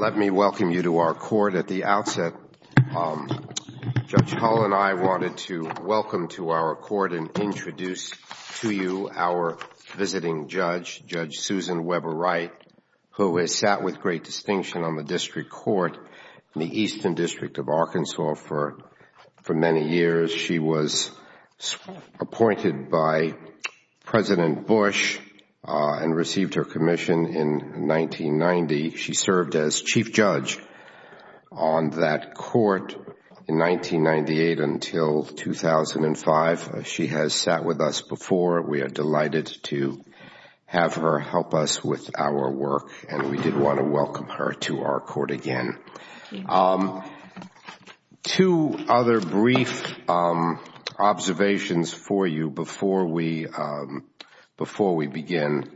Let me welcome you to our court. At the outset, Judge Hull and I wanted to welcome to our court and introduce to you our visiting judge, Judge Susan Weber Wright, who has sat with great distinction on the district court in the Eastern District of Arkansas for many years. She was appointed by President Bush and received her commission in 1990. She served as chief judge on that court in 1998 until 2005. She has sat with us before. We are delighted to have her help us with our work, and we did want to welcome her to our court again. Two other brief observations for you before we begin.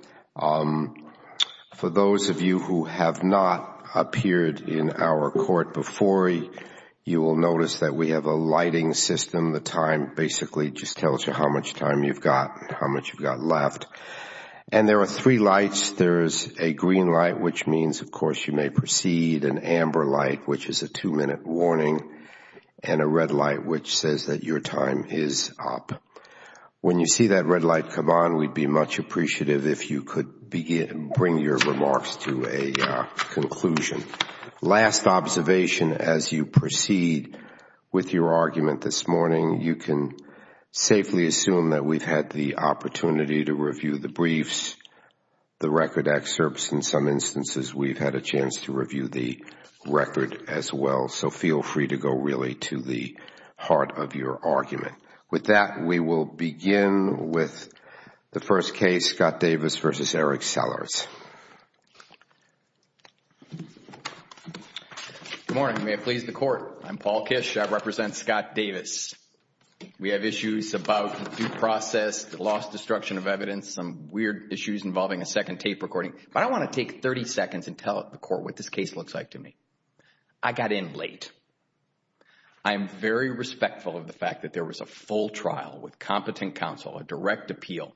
For those of you who have not appeared in our court before, you will notice that we have a green light, which means you may proceed, an amber light, which is a two-minute warning, and a red light, which says that your time is up. When you see that red light come on, we would be much appreciative if you could bring your remarks to a conclusion. Last observation, as you proceed with your argument this morning, you can safely assume that we've had the opportunity to review the briefs, the record excerpts. In some instances, we've had a chance to review the record as well. Feel free to go really to the heart of your argument. With that, we will begin with the first case, Scott Davis v. Eric Sellers. Good morning. May it please the Court. I'm Paul Kish. I represent Scott Davis. We have issues about due process, lost destruction of evidence, some weird issues involving a second tape recording. But I want to take 30 seconds and tell the Court what this case looks like to me. I got in late. I am very respectful of the fact that there was a full trial with competent counsel, a direct appeal,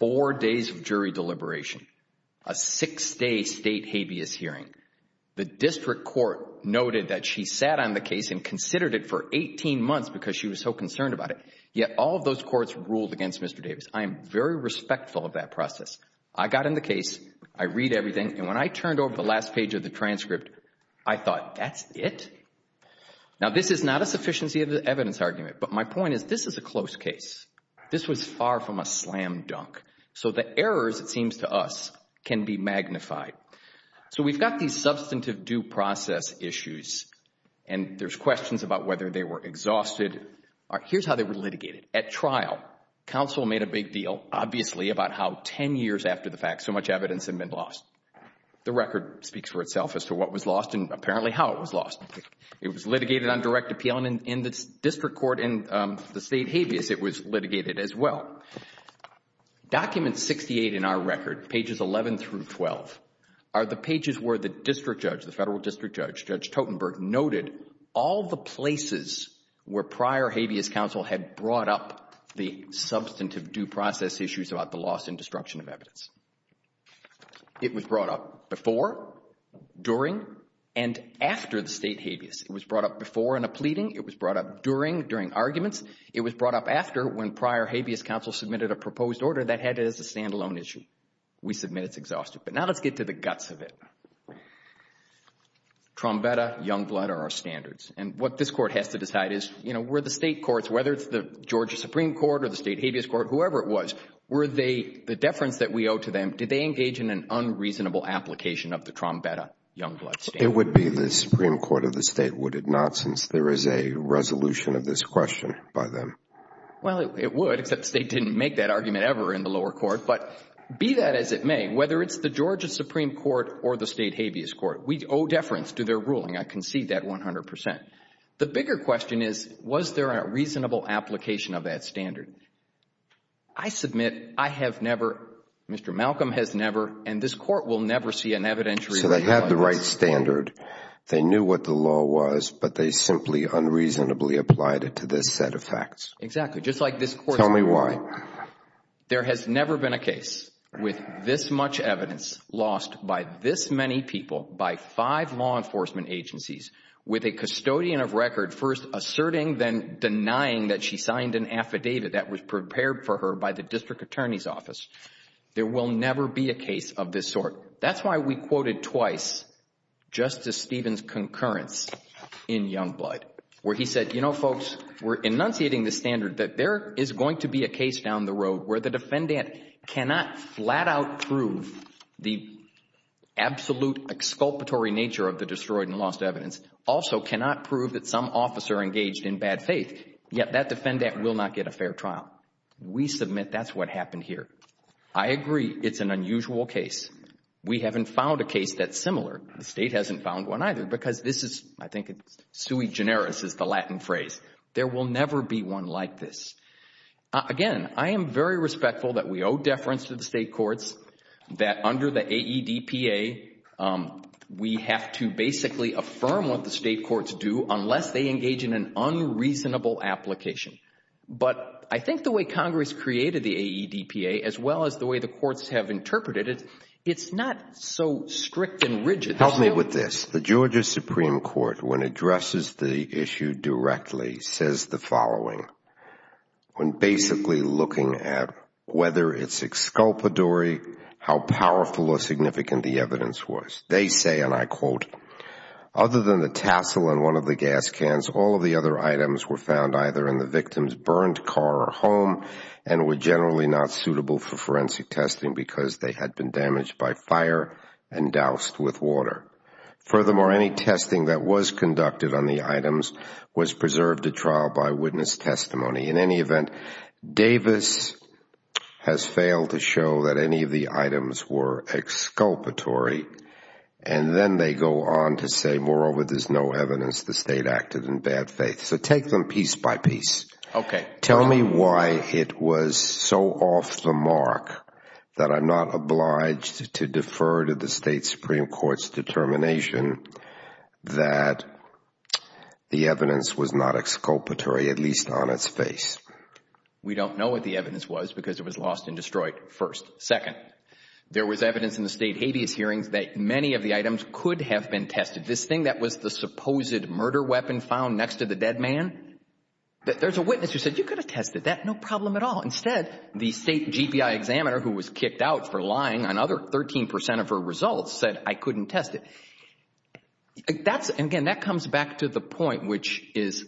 four days of jury deliberation, a six-day state habeas hearing. The district court noted that she sat on the case and considered it for 18 months because she was so concerned about it, yet all of those courts ruled against Mr. Davis. I am very respectful of that process. I got in the case. I read everything. And when I turned over the last page of the transcript, I thought, that's it? Now this is not a sufficiency of the evidence argument, but my point is this is a close case. This was far from a slam dunk. So the errors, it seems to us, can be magnified. So we've got these substantive due process issues and there's questions about whether they were exhausted. Here's how they were litigated. At trial, counsel made a big deal, obviously, about how ten years after the fact so much evidence had been lost. The record speaks for itself as to what was lost and apparently how it was lost. It was litigated on direct appeal and in the district court, in the state habeas, it was litigated as well. Document 68 in our record, pages 11 through 12, are the pages where the district judge, the federal district judge, Judge Totenberg, noted all the places where prior habeas counsel had brought up the substantive due process issues about the loss and destruction of evidence. It was brought up before, during, and after the state habeas. It was brought up before in a pleading. It was brought up during, during arguments. It was brought up after when prior habeas counsel submitted a proposed order that had it as a standalone issue. We submit it's exhausted. Now let's get to the guts of it. Trombetta, Youngblood are our standards. What this court has to decide is, were the state courts, whether it's the Georgia Supreme Court or the state habeas court, whoever it was, were they, the deference that we owe to them, did they engage in an unreasonable application of the Trombetta-Youngblood standard? It would be the Supreme Court of the state, would it not, since there is a resolution of this question by them? Well, it would, except the state didn't make that argument ever in the lower court. But be that as it may, whether it's the Georgia Supreme Court or the state habeas court, we owe deference to their ruling. I concede that 100%. The bigger question is, was there a reasonable application of that standard? I submit, I have never, Mr. Malcolm has never, and this court will never see an evidentiary rebuttal. So they had the right standard. They knew what the law was, but they simply unreasonably applied it to this set of facts. Exactly. Just like this court. Tell me why. There has never been a case with this much evidence lost by this many people, by five law enforcement agencies, with a custodian of record first asserting, then denying that she signed an affidavit that was prepared for her by the district attorney's office. There will never be a case of this sort. That's why we quoted twice Justice Stevens' concurrence in Youngblood, where he said, you were enunciating the standard that there is going to be a case down the road where the defendant cannot flat out prove the absolute exculpatory nature of the destroyed and lost evidence, also cannot prove that some officer engaged in bad faith, yet that defendant will not get a fair trial. We submit that's what happened here. I agree it's an unusual case. We haven't found a case that's similar. The state hasn't found one either because this is, I think it's sui generis is the Latin phrase. There will never be one like this. Again, I am very respectful that we owe deference to the state courts, that under the AEDPA, we have to basically affirm what the state courts do unless they engage in an unreasonable application. But I think the way Congress created the AEDPA, as well as the way the courts have interpreted it, it's not so strict and rigid. Help me with this. The Georgia Supreme Court, when it addresses the issue directly, says the following when basically looking at whether it's exculpatory, how powerful or significant the evidence was. They say, and I quote, other than the tassel in one of the gas cans, all of the other items were found either in the victim's burned car or home and were generally not suitable for Furthermore, any testing that was conducted on the items was preserved at trial by witness testimony. In any event, Davis has failed to show that any of the items were exculpatory and then they go on to say, moreover, there's no evidence the state acted in bad faith. So take them piece by piece. Tell me why it was so off the mark that I'm not obliged to defer to the state Supreme Court's determination that the evidence was not exculpatory, at least on its face. We don't know what the evidence was because it was lost and destroyed first. Second, there was evidence in the state habeas hearings that many of the items could have been tested. This thing that was the supposed murder weapon found next to the dead man, there's a witness who said, you could have tested that, no problem at all. Instead, the state GPI examiner who was kicked out for lying on other 13% of her results said I couldn't test it. Again, that comes back to the point, which is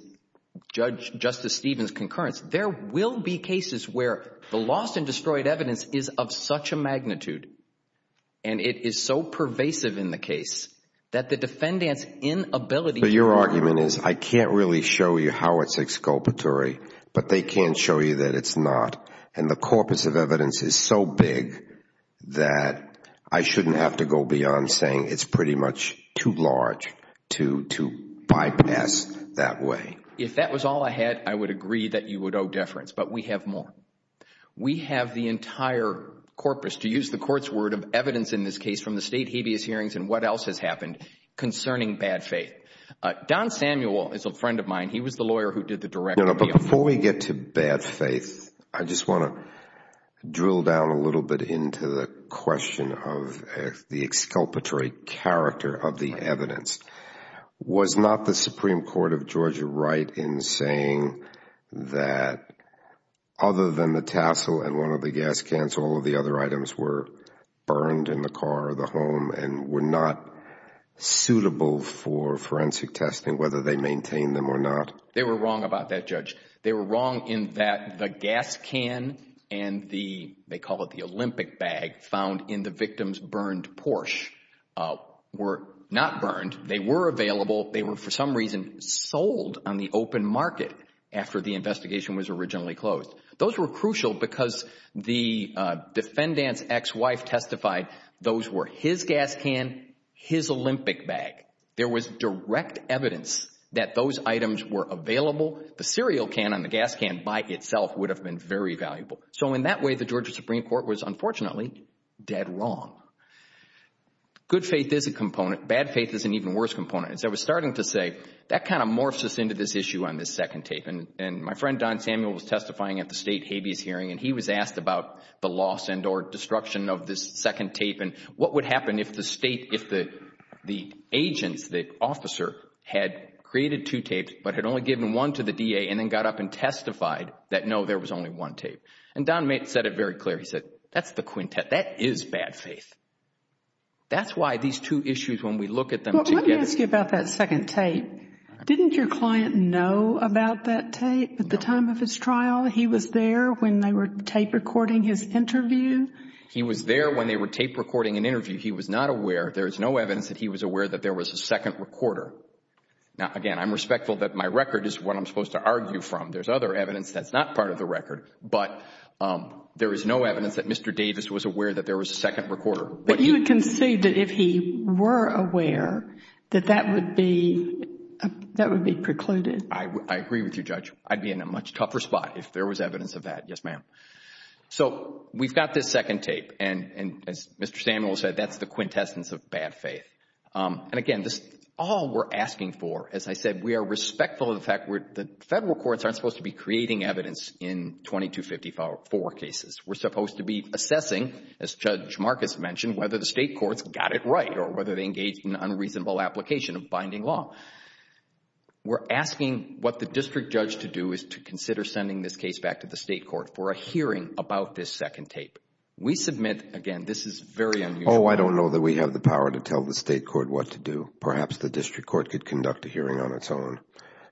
Justice Stevens' concurrence. There will be cases where the lost and destroyed evidence is of such a magnitude and it is so pervasive in the case that the defendant's inability... Your argument is I can't really show you how it's exculpatory, but they can show you that it's not. The corpus of evidence is so big that I shouldn't have to go beyond saying it's pretty much too large to bypass that way. If that was all I had, I would agree that you would owe deference, but we have more. We have the entire corpus, to use the court's word, of evidence in this case from the state habeas hearings and what else has happened concerning bad faith. Don Samuel is a friend of mine. He was the lawyer who did the direct... Before we get to bad faith, I just want to drill down a little bit into the question of the exculpatory character of the evidence. Was not the Supreme Court of Georgia right in saying that other than the tassel and one of the gas cans, all of the other items were burned in the car or the home and were not suitable for forensic testing, whether they maintained them or not? They were wrong about that, Judge. They were wrong in that the gas can and the, they call it the Olympic bag, found in the victim's burned Porsche were not burned. They were available. They were, for some reason, sold on the open market after the investigation was originally closed. Those were crucial because the defendant's ex-wife testified those were his gas can, his Olympic bag. There was direct evidence that those items were available. The cereal can and the gas can by itself would have been very valuable. So in that way, the Georgia Supreme Court was unfortunately dead wrong. Good faith is a component. Bad faith is an even worse component. As I was starting to say, that kind of morphs us into this issue on this second tape. And my friend Don Samuel was testifying at the state habeas hearing and he was asked about the loss and or destruction of this second tape and what would happen if the state, the state intelligence, the officer had created two tapes but had only given one to the D.A. and then got up and testified that no, there was only one tape. And Don made, said it very clear. He said, that's the quintet. That is bad faith. That's why these two issues when we look at them together. Let me ask you about that second tape. Didn't your client know about that tape at the time of his trial? He was there when they were tape recording his interview? He was there when they were tape recording an interview. He was not aware. There is no evidence that he was aware that there was a second recorder. Now, again, I'm respectful that my record is what I'm supposed to argue from. There's other evidence that's not part of the record. But there is no evidence that Mr. Davis was aware that there was a second recorder. But you would concede that if he were aware, that that would be, that would be precluded? I agree with you, Judge. I'd be in a much tougher spot if there was evidence of that. Yes, ma'am. So, we've got this second tape. And as Mr. Samuel said, that's the quintessence of bad faith. And again, this is all we're asking for. As I said, we are respectful of the fact that the federal courts aren't supposed to be creating evidence in 2254 cases. We're supposed to be assessing, as Judge Marcus mentioned, whether the state courts got it right or whether they engaged in unreasonable application of binding law. We're asking what the district judge to do is to consider sending this case back to the state court for a hearing about this second tape. We submit, again, this is very unusual. Oh, I don't know that we have the power to tell the state court what to do. Perhaps the district court could conduct a hearing on its own.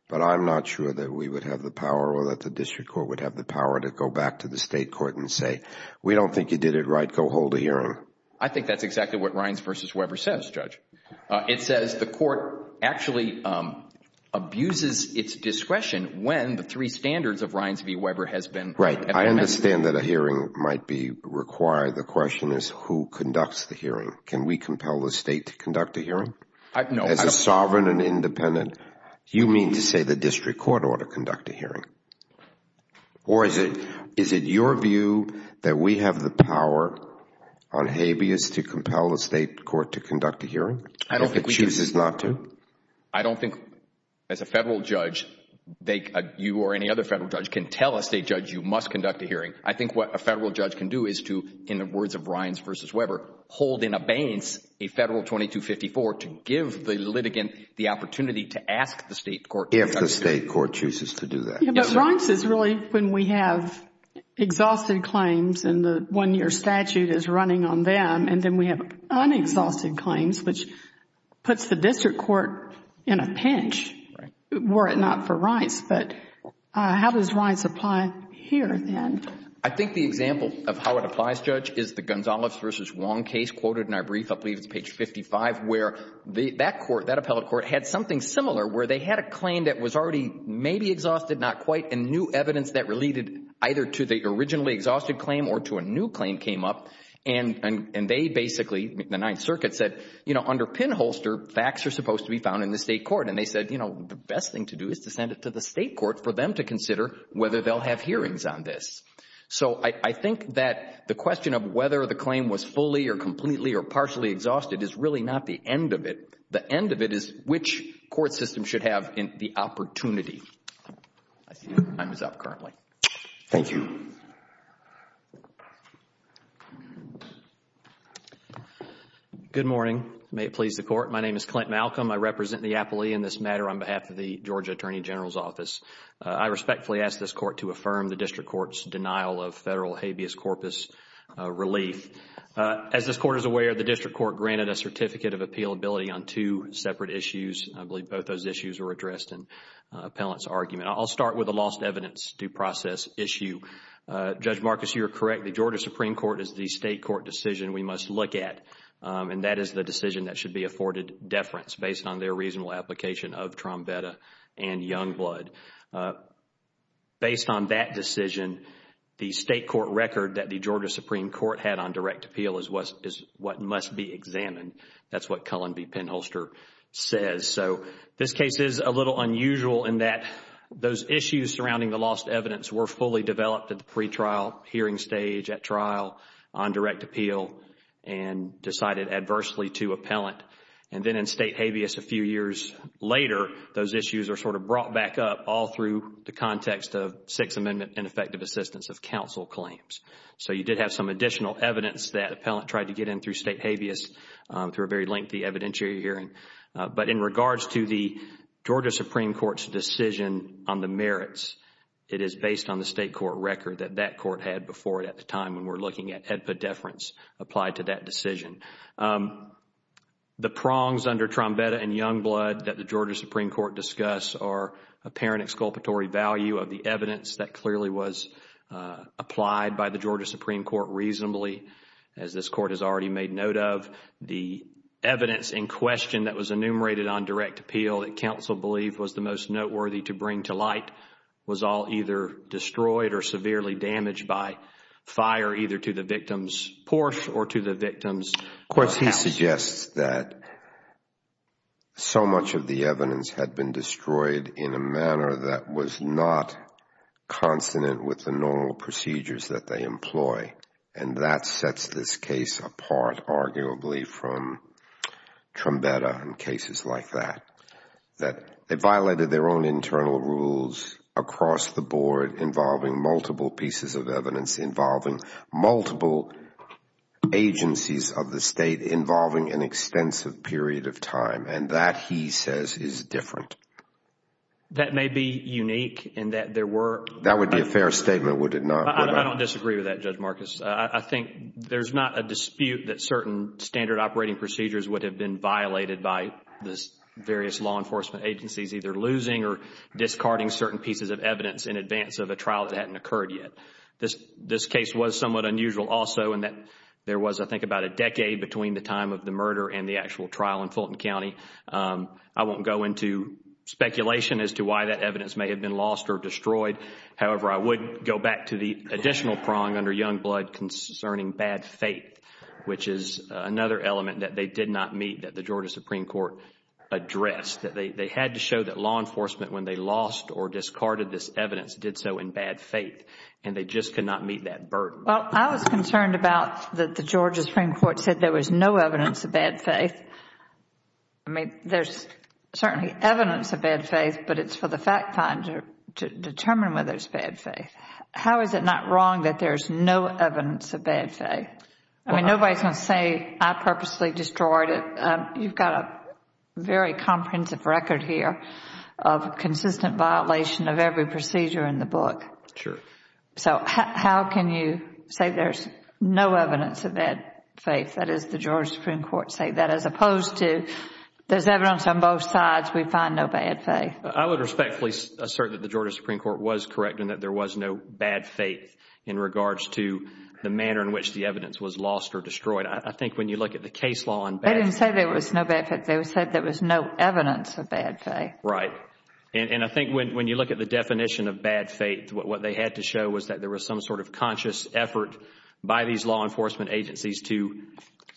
But I'm not sure that we would have the power or that the district court would have the power to go back to the state court and say, we don't think you did it right. Go hold a hearing. I think that's exactly what Rines v. Weber says, Judge. It says the court actually abuses its discretion when the three standards of Rines v. Weber has been amended. I understand that a hearing might be required. The question is who conducts the hearing? Can we compel the state to conduct a hearing? No. As a sovereign and independent, you mean to say the district court ought to conduct a hearing? Or is it your view that we have the power on habeas to compel the state court to conduct a hearing? I don't think we do. If it chooses not to? I don't think, as a federal judge, you or any other federal judge can tell a state judge you must conduct a hearing. I think what a federal judge can do is to, in the words of Rines v. Weber, hold in abeyance a Federal 2254 to give the litigant the opportunity to ask the state court to conduct a hearing. If the state court chooses to do that. But Rines is really when we have exhausted claims and the one-year statute is running on them and then we have unexhausted claims, which puts the district court in a pinch were it not for Rines. But how does Rines apply here, then? I think the example of how it applies, Judge, is the Gonzalez v. Wong case quoted in our brief, I believe it's page 55, where that court, that appellate court, had something similar where they had a claim that was already maybe exhausted, not quite, and new evidence that related either to the originally exhausted claim or to a new claim came up. And they basically, the Ninth Circuit, said, you know, under pinholster, facts are supposed to be found in the state court. And they said, you know, the best thing to do is to send it to the state court for them to consider whether they'll have hearings on this. So I think that the question of whether the claim was fully or completely or partially exhausted is really not the end of it. The end of it is which court system should have the opportunity. I see your time is up currently. Thank you. Good morning. May it please the Court. My name is Clint Malcolm. I represent the appellee in this matter on behalf of the Georgia Attorney General's Office. I respectfully ask this Court to affirm the district court's denial of federal habeas corpus relief. As this Court is aware, the district court granted a certificate of appealability on two separate issues. I believe both those issues were addressed in the appellate's argument. I'll start with the lost evidence due process issue. Judge Marcus, you are correct. The Georgia Supreme Court is the state court decision we must look at. And that is the decision that should be afforded deference based on their reasonable application of Trombetta and Youngblood. Based on that decision, the state court record that the Georgia Supreme Court had on direct appeal is what must be examined. That's what Cullen v. Penholster says. So this case is a little unusual in that those issues surrounding the lost evidence were fully developed at the pre-trial hearing stage, at trial, on direct appeal, and decided adversely to appellant. And then in state habeas a few years later, those issues are sort of brought back up all through the context of Sixth Amendment and effective assistance of counsel claims. So you did have some additional evidence that appellant tried to get in through state habeas through a very lengthy evidentiary hearing. But in regards to the Georgia Supreme Court's decision on the merits, it is based on the state court record that that court had before it at the time when we're looking at HEDPA deference applied to that decision. The prongs under Trombetta and Youngblood that the Georgia Supreme Court discuss are apparent exculpatory value of the evidence that clearly was applied by the Georgia Supreme Court reasonably, as this court has already made note of. The evidence in question that was enumerated on direct appeal that counsel believed was the most noteworthy to bring to light was all either destroyed or severely damaged by fire either to the victim's porch or to the victim's house. Of course, he suggests that so much of the evidence had been destroyed in a manner that was not consonant with the normal procedures that they employ, and that sets this case apart arguably from Trombetta and cases like that. That they violated their own internal rules across the board involving multiple pieces of evidence, involving multiple agencies of the state, involving an extensive period of time, and that, he says, is different. That may be unique in that there were. That would be a fair statement, would it not? I don't disagree with that, Judge Marcus. I think there's not a dispute that certain standard operating procedures would have been law enforcement agencies either losing or discarding certain pieces of evidence in advance of a trial that hadn't occurred yet. This case was somewhat unusual also in that there was, I think, about a decade between the time of the murder and the actual trial in Fulton County. I won't go into speculation as to why that evidence may have been lost or destroyed. However, I would go back to the additional prong under Youngblood concerning bad faith, which is another element that they did not meet that the Georgia Supreme Court addressed. They had to show that law enforcement, when they lost or discarded this evidence, did so in bad faith, and they just could not meet that burden. Well, I was concerned about that the Georgia Supreme Court said there was no evidence of bad faith. I mean, there's certainly evidence of bad faith, but it's for the fact finder to determine whether it's bad faith. How is it not wrong that there's no evidence of bad faith? I mean, nobody's going to say I purposely destroyed it. You've got a very comprehensive record here of consistent violation of every procedure in the book. Sure. So, how can you say there's no evidence of bad faith, that is the Georgia Supreme Court say that, as opposed to there's evidence on both sides, we find no bad faith? I would respectfully assert that the Georgia Supreme Court was correct in that there was no bad faith in regards to the manner in which the evidence was lost or destroyed. I think when you look at the case law on bad faith... They didn't say there was no bad faith. They said there was no evidence of bad faith. Right. And I think when you look at the definition of bad faith, what they had to show was that there was some sort of conscious effort by these law enforcement agencies to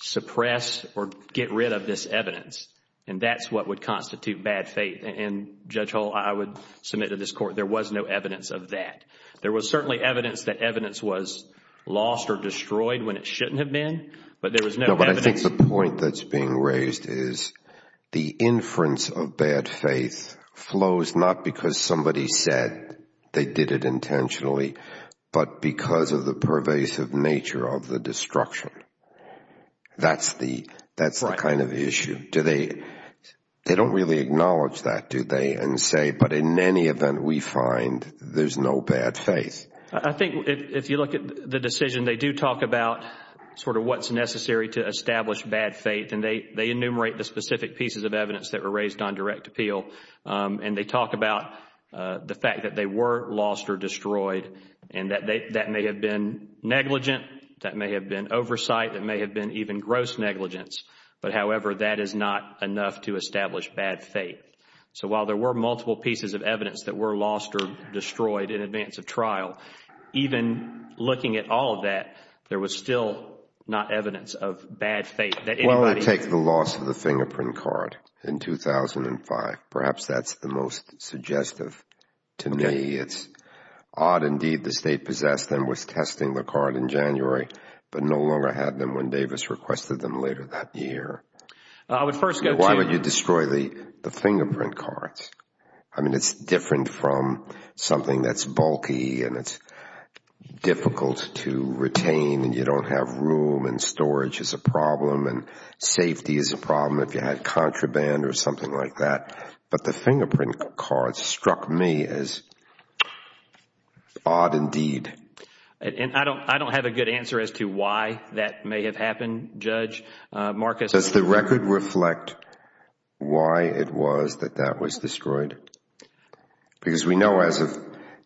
suppress or get rid of this evidence, and that's what would constitute bad faith. And Judge Hull, I would submit to this Court, there was no evidence of that. There was certainly evidence that evidence was lost or destroyed when it shouldn't have been. But there was no evidence... No, but I think the point that's being raised is the inference of bad faith flows not because somebody said they did it intentionally, but because of the pervasive nature of the destruction. That's the kind of issue. Right. They don't really acknowledge that, do they, and say, but in any event, we find there's no bad faith. I think if you look at the decision, they do talk about sort of what's necessary to establish bad faith, and they enumerate the specific pieces of evidence that were raised on direct appeal. And they talk about the fact that they were lost or destroyed, and that may have been negligent, that may have been oversight, that may have been even gross negligence. But however, that is not enough to establish bad faith. So while there were multiple pieces of evidence that were lost or destroyed in advance of trial, even looking at all of that, there was still not evidence of bad faith that anybody... Well, take the loss of the fingerprint card in 2005. Perhaps that's the most suggestive to me. It's odd indeed the State possessed them, was testing the card in January, but no longer had them when Davis requested them later that year. I would first go to... Why would you destroy the fingerprint cards? I mean, it's different from something that's bulky and it's difficult to retain and you don't have room and storage is a problem and safety is a problem if you had contraband or something like that. But the fingerprint cards struck me as odd indeed. I don't have a good answer as to why that may have happened, Judge Marcus. Does the record reflect why it was that that was destroyed? Because we know as of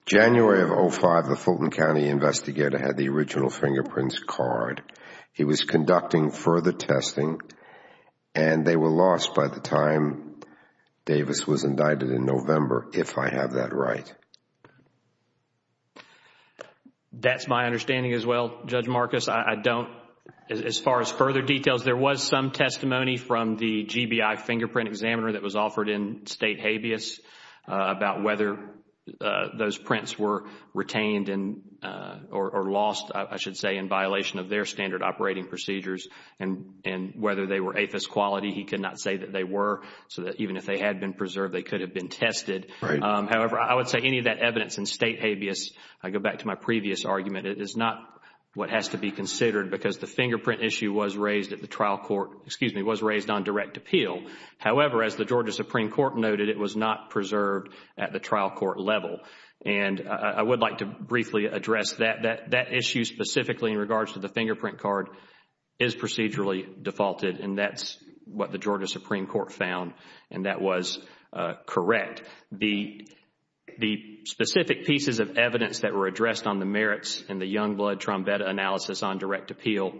January of 2005, the Fulton County investigator had the original fingerprints card. He was conducting further testing and they were lost by the time Davis was indicted in That's my understanding as well, Judge Marcus. As far as further details, there was some testimony from the GBI fingerprint examiner that was offered in State habeas about whether those prints were retained or lost, I should say, in violation of their standard operating procedures and whether they were APHIS quality. He could not say that they were, so that even if they had been preserved, they could have been tested. However, I would say any of that evidence in State habeas, I go back to my previous argument, it is not what has to be considered because the fingerprint issue was raised on direct appeal. However, as the Georgia Supreme Court noted, it was not preserved at the trial court level. I would like to briefly address that. That issue specifically in regards to the fingerprint card is procedurally defaulted and that is what the Georgia Supreme Court found and that was correct. The specific pieces of evidence that were addressed on the merits in the Youngblood Trombetta analysis on direct appeal,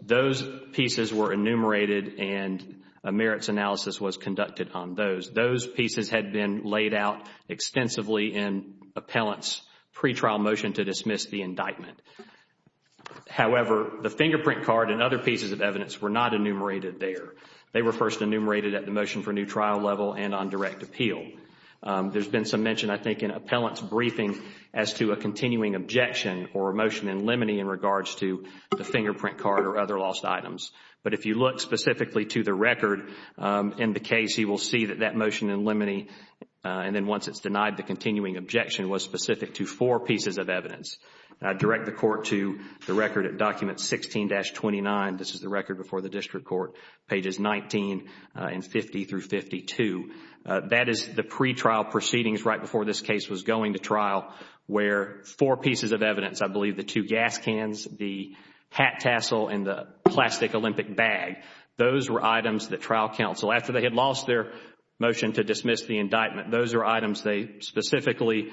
those pieces were enumerated and a merits analysis was conducted on those. Those pieces had been laid out extensively in appellant's pretrial motion to dismiss the indictment. However, the fingerprint card and other pieces of evidence were not enumerated there. They were first enumerated at the motion for new trial level and on direct appeal. There has been some mention, I think, in appellant's briefing as to a continuing objection or a motion in limine in regards to the fingerprint card or other lost items. But if you look specifically to the record in the case, you will see that that motion in limine and then once it is denied, the continuing objection was specific to four pieces of evidence. I direct the court to the record at document 16-29. This is the record before the district court, pages 19 and 50 through 52. That is the pretrial proceedings right before this case was going to trial where four pieces of evidence, I believe the two gas cans, the hat tassel and the plastic Olympic bag, those were items that trial counsel, after they had lost their motion to dismiss the indictment, those were items they specifically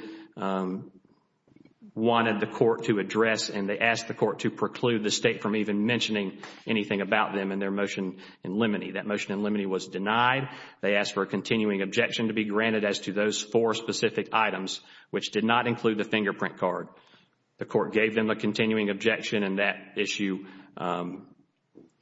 wanted the court to address and they asked the court to preclude the state from even mentioning anything about them in their motion in limine. That motion in limine was denied. They asked for a continuing objection to be granted as to those four specific items which did not include the fingerprint card. The court gave them a continuing objection and that issue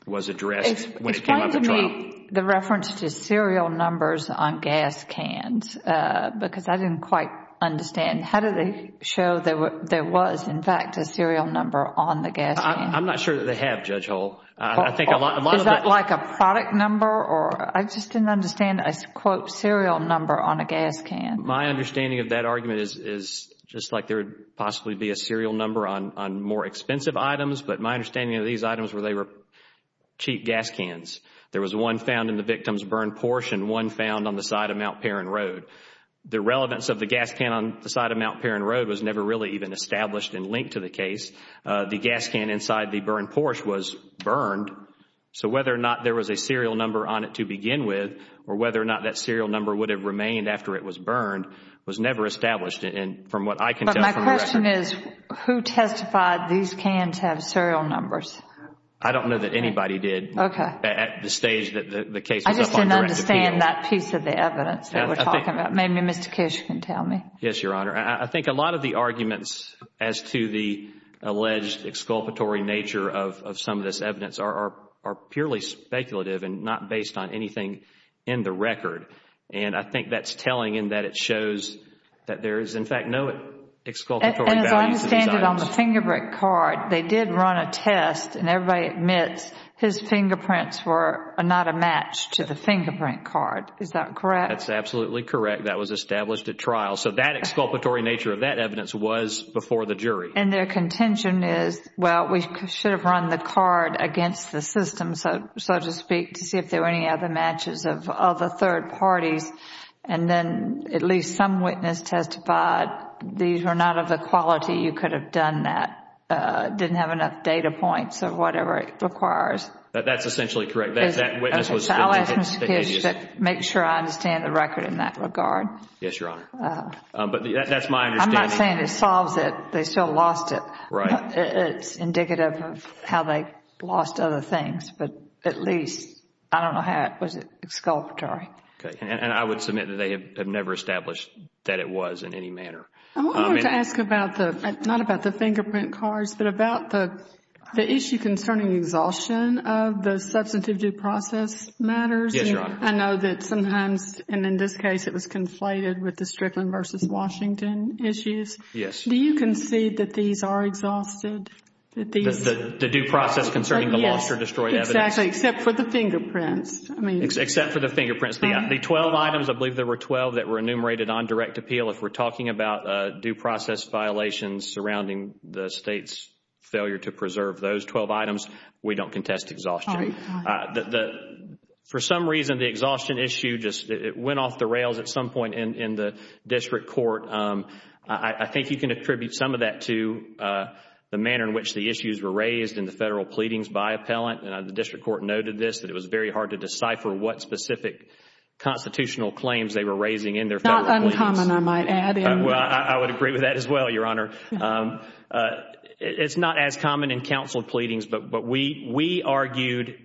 was addressed when it came up at trial. The reference to serial numbers on gas cans, because I didn't quite understand. How do they show there was, in fact, a serial number on the gas can? I am not sure that they have, Judge Hall. Is that like a product number or I just didn't understand a quote serial number on a gas can. My understanding of that argument is just like there would possibly be a serial number on more expensive items, but my understanding of these items were they were cheap gas cans. There was one found in the victim's burned Porsche and one found on the side of Mount Perrin Road. The relevance of the gas can on the side of Mount Perrin Road was never really even established and linked to the case. The gas can inside the burned Porsche was burned, so whether or not there was a serial number on it to begin with or whether or not that serial number would have remained after it was burned was never established. From what I can tell. But my question is who testified these cans have serial numbers? I don't know that anybody did at the stage that the case was up on direct appeal. I just didn't understand that piece of the evidence that we're talking about. Maybe Mr. Kish can tell me. Yes, Your Honor. I think a lot of the arguments as to the alleged exculpatory nature of some of this evidence are purely speculative and not based on anything in the record. I think that's telling in that it shows that there is, in fact, no exculpatory value to these items. Then as I understand it on the fingerprint card, they did run a test and everybody admits his fingerprints were not a match to the fingerprint card. Is that correct? That's absolutely correct. That was established at trial. So that exculpatory nature of that evidence was before the jury. And their contention is, well, we should have run the card against the system, so to speak, to see if there were any other matches of other third parties. And then at least some witness testified these were not of the quality you could have done that. It didn't have enough data points or whatever it requires. That's essentially correct. That witness was... I'll ask Mr. Kish to make sure I understand the record in that regard. Yes, Your Honor. But that's my understanding. I'm not saying it solves it. They still lost it. Right. It's indicative of how they lost other things, but at least I don't know how it was exculpatory. And I would submit that they have never established that it was in any manner. I wanted to ask about the, not about the fingerprint cards, but about the issue concerning exhaustion of the substantive due process matters. Yes, Your Honor. I know that sometimes, and in this case it was conflated with the Strickland v. Washington issues. Yes. Do you concede that these are exhausted? The due process concerning the lost or destroyed evidence? Yes, exactly. Except for the fingerprints. Except for the fingerprints. The 12 items, I believe there were 12 that were enumerated on direct appeal. If we're talking about due process violations surrounding the State's failure to preserve those 12 items, we don't contest exhaustion. For some reason, the exhaustion issue just went off the rails at some point in the district court. I think you can attribute some of that to the manner in which the issues were raised in the federal pleadings by appellant. And the district court noted this, that it was very hard to decipher what specific constitutional claims they were raising in their federal pleadings. Not uncommon, I might add. Well, I would agree with that as well, Your Honor. It's not as common in counsel pleadings, but we argued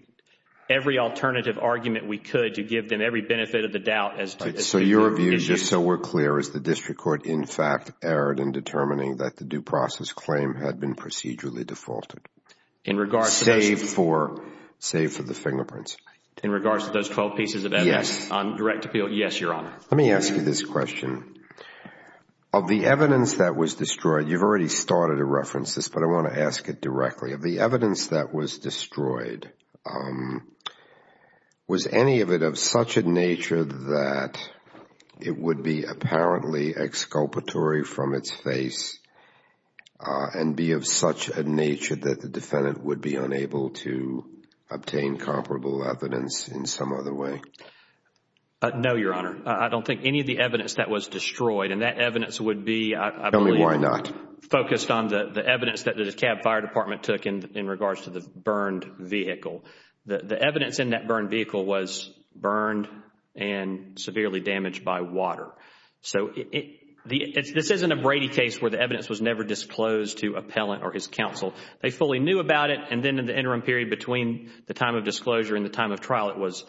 every alternative argument we could to give them every benefit of the doubt as to the issues. So your view, just so we're clear, is the district court, in fact, erred in determining that the due process claim had been procedurally defaulted? In regards to those... Save for the fingerprints. In regards to those 12 pieces of evidence on direct appeal, yes, Your Honor. Let me ask you this question. Of the evidence that was destroyed, you've already started to reference this, but I want to ask it directly. Of the evidence that was destroyed, was any of it of such a nature that it would be apparently exculpatory from its face and be of such a nature that the defendant would be unable to obtain comparable evidence in some other way? No, Your Honor. I don't think any of the evidence that was destroyed, and that evidence would be... Tell me why not. Focused on the evidence that the Cab Fire Department took in regards to the burned vehicle. The evidence in that burned vehicle was burned and severely damaged by water. So, this isn't a Brady case where the evidence was never disclosed to appellant or his counsel. They fully knew about it and then in the interim period between the time of disclosure and the time of trial, it was...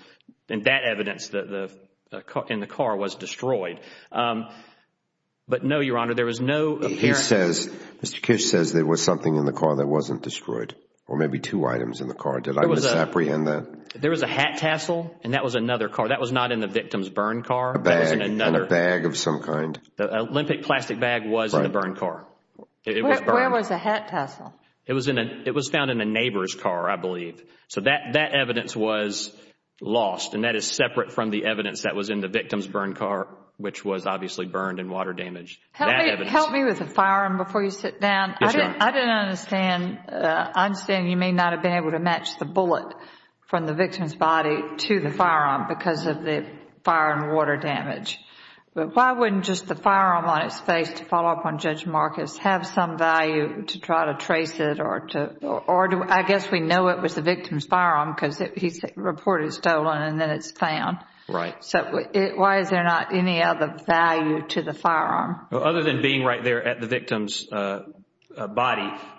and that evidence in the car was destroyed. But no, Your Honor, there was no... He says, Mr. Kish says there was something in the car that wasn't destroyed or maybe two items in the car. Did I misapprehend that? There was a hat tassel and that was another car. That was not in the victim's burned car. That was in another... A bag. A bag of some kind. An Olympic plastic bag was in the burned car. It was burned. Where was the hat tassel? It was in a... it was found in a neighbor's car, I believe. So that evidence was lost and that is separate from the evidence that was in the victim's burned car, which was obviously burned and water damaged. That evidence... Help me with the firearm before you sit down. Yes, Your Honor. I didn't understand. I understand you may not have been able to match the bullet from the victim's body to the firearm because of the fire and water damage, but why wouldn't just the firearm on its face to follow up on Judge Marcus have some value to try to trace it or to... I guess we know it was the victim's firearm because he reported it stolen and then it's found. Right. So why is there not any other value to the firearm? Other than being right there at the victim's body,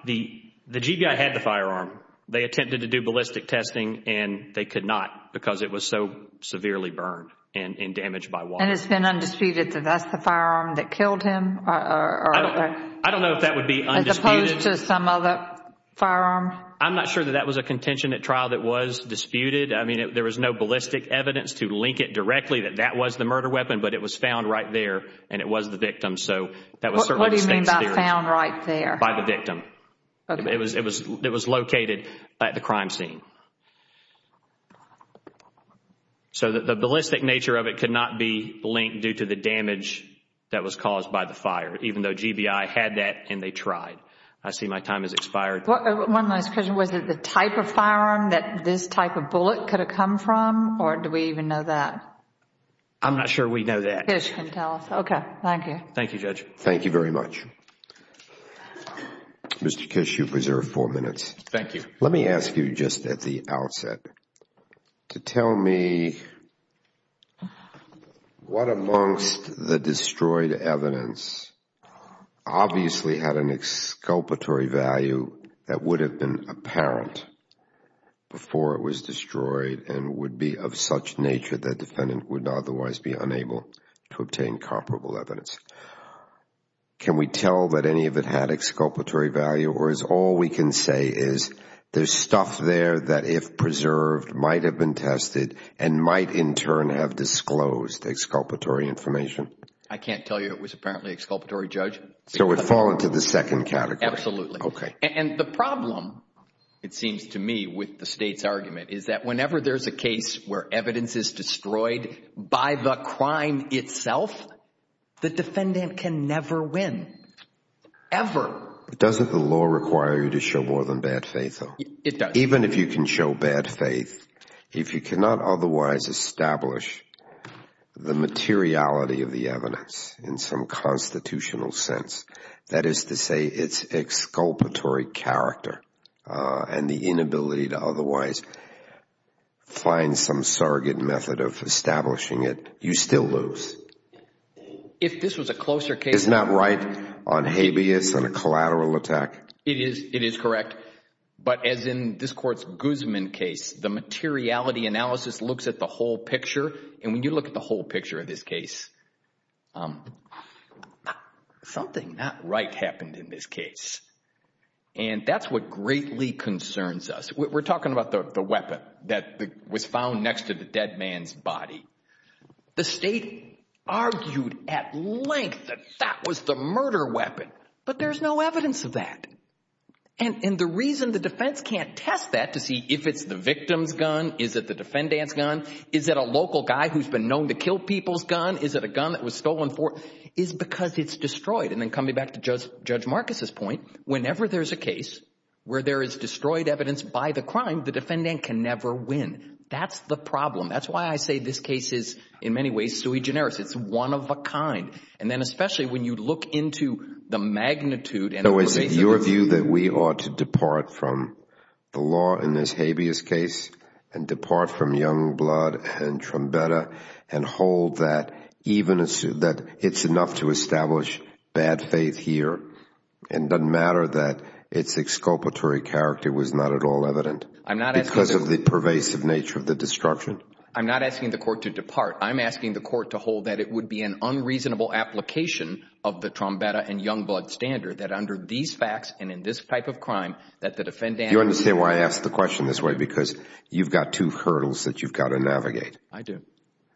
the GBI had the firearm. They attempted to do ballistic testing and they could not because it was so severely burned and damaged by water. And it's been undisputed that that's the firearm that killed him or... I don't know if that would be undisputed. As opposed to some other firearm? I'm not sure that that was a contention at trial that was disputed. I mean, there was no ballistic evidence to link it directly that that was the murder weapon, but it was found right there and it was the victim. So that was certainly... What do you mean by found right there? By the victim. Okay. It was located at the crime scene. So the ballistic nature of it could not be linked due to the damage that was caused by the fire, even though GBI had that and they tried. I see my time has expired. One last question. Was it the type of firearm that this type of bullet could have come from or do we even know that? I'm not sure we know that. Kish can tell us. Okay. Thank you. Thank you, Judge. Thank you very much. Mr. Kish, you preserve four minutes. Thank you. Let me ask you just at the outset to tell me what amongst the destroyed evidence obviously had an exculpatory value that would have been apparent before it was destroyed and would be of such nature that defendant would otherwise be unable to obtain comparable evidence. Can we tell that any of it had exculpatory value or is all we can say is there's stuff there that if preserved might have been tested and might in turn have disclosed exculpatory information? I can't tell you. It was apparently exculpatory, Judge. So it would fall into the second category. Absolutely. Okay. And the problem, it seems to me, with the State's argument is that whenever there's a case where evidence is destroyed by the crime itself, the defendant can never win. Ever. Doesn't the law require you to show more than bad faith, though? It does. Even if you can show bad faith, if you cannot otherwise establish the materiality of the evidence in some constitutional sense, that is to say its exculpatory character and the client some surrogate method of establishing it, you still lose. If this was a closer case, it's not right on habeas and a collateral attack? It is. It is correct. But as in this Court's Guzman case, the materiality analysis looks at the whole picture, and when you look at the whole picture of this case, something not right happened in this case. And that's what greatly concerns us. We're talking about the weapon that was found next to the dead man's body. The State argued at length that that was the murder weapon, but there's no evidence of that. And the reason the defense can't test that to see if it's the victim's gun, is it the defendant's gun, is it a local guy who's been known to kill people's gun, is it a gun that was stolen for, is because it's destroyed. And then coming back to Judge Marcus's point, whenever there's a case where there is destroyed evidence by the crime, the defendant can never win. That's the problem. That's why I say this case is, in many ways, sui generis. It's one of a kind. And then especially when you look into the magnitude and the nature of the... So is it your view that we ought to depart from the law in this habeas case, and depart from young blood and trumpetta, and hold that it's enough to establish bad faith here, and it doesn't matter that its exculpatory character was not at all evident, because of the pervasive nature of the destruction? I'm not asking the court to depart. I'm asking the court to hold that it would be an unreasonable application of the trumpetta and young blood standard, that under these facts, and in this type of crime, that the defendant... Do you understand why I asked the question this way? Because you've got two hurdles that you've got to navigate. I do.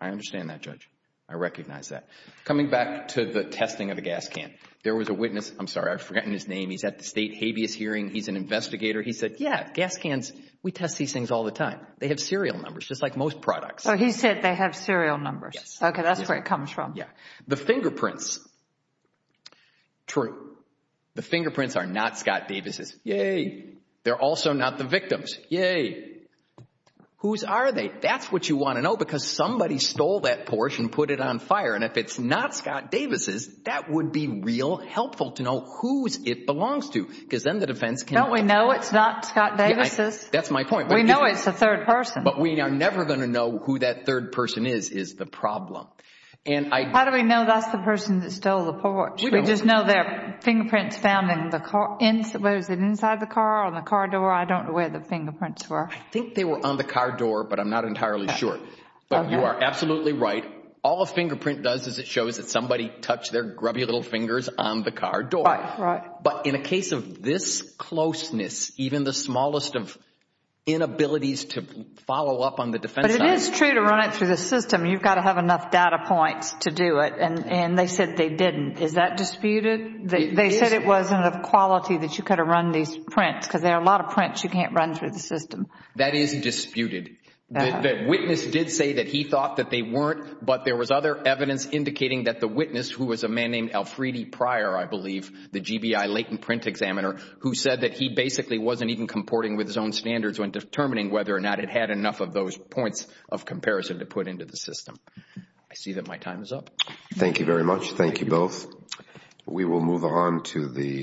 I understand that, Judge. I recognize that. Coming back to the testing of the gas can. There was a witness. I'm sorry, I've forgotten his name. He's at the state habeas hearing. He's an investigator. He said, yeah, gas cans, we test these things all the time. They have serial numbers, just like most products. Oh, he said they have serial numbers. Yes. Okay, that's where it comes from. Yeah. The fingerprints. True. The fingerprints are not Scott Davis's. Yay. They're also not the victim's. Yay. Whose are they? That's what you want to know, because somebody stole that Porsche and put it on fire. If it's not Scott Davis's, that would be real helpful to know whose it belongs to, because then the defense can... Don't we know it's not Scott Davis's? That's my point. We know it's the third person. But we are never going to know who that third person is, is the problem. How do we know that's the person that stole the Porsche? We don't. We just know their fingerprints found in the car, whether it was inside the car or on the car door. I don't know where the fingerprints were. I think they were on the car door, but I'm not entirely sure. Okay. But you are absolutely right. All a fingerprint does is it shows that somebody touched their grubby little fingers on the car door. Right. Right. But in a case of this closeness, even the smallest of inabilities to follow up on the defense... But it is true to run it through the system, you've got to have enough data points to do it. And they said they didn't. Is that disputed? It is. They said it wasn't of quality that you could have run these prints, because there are a lot of prints you can't run through the system. That is disputed. The witness did say that he thought that they weren't, but there was other evidence indicating that the witness, who was a man named Alfredi Pryor, I believe, the GBI latent print examiner, who said that he basically wasn't even comporting with his own standards when determining whether or not it had enough of those points of comparison to put into the system. I see that my time is up. Thank you very much. We will move on to the...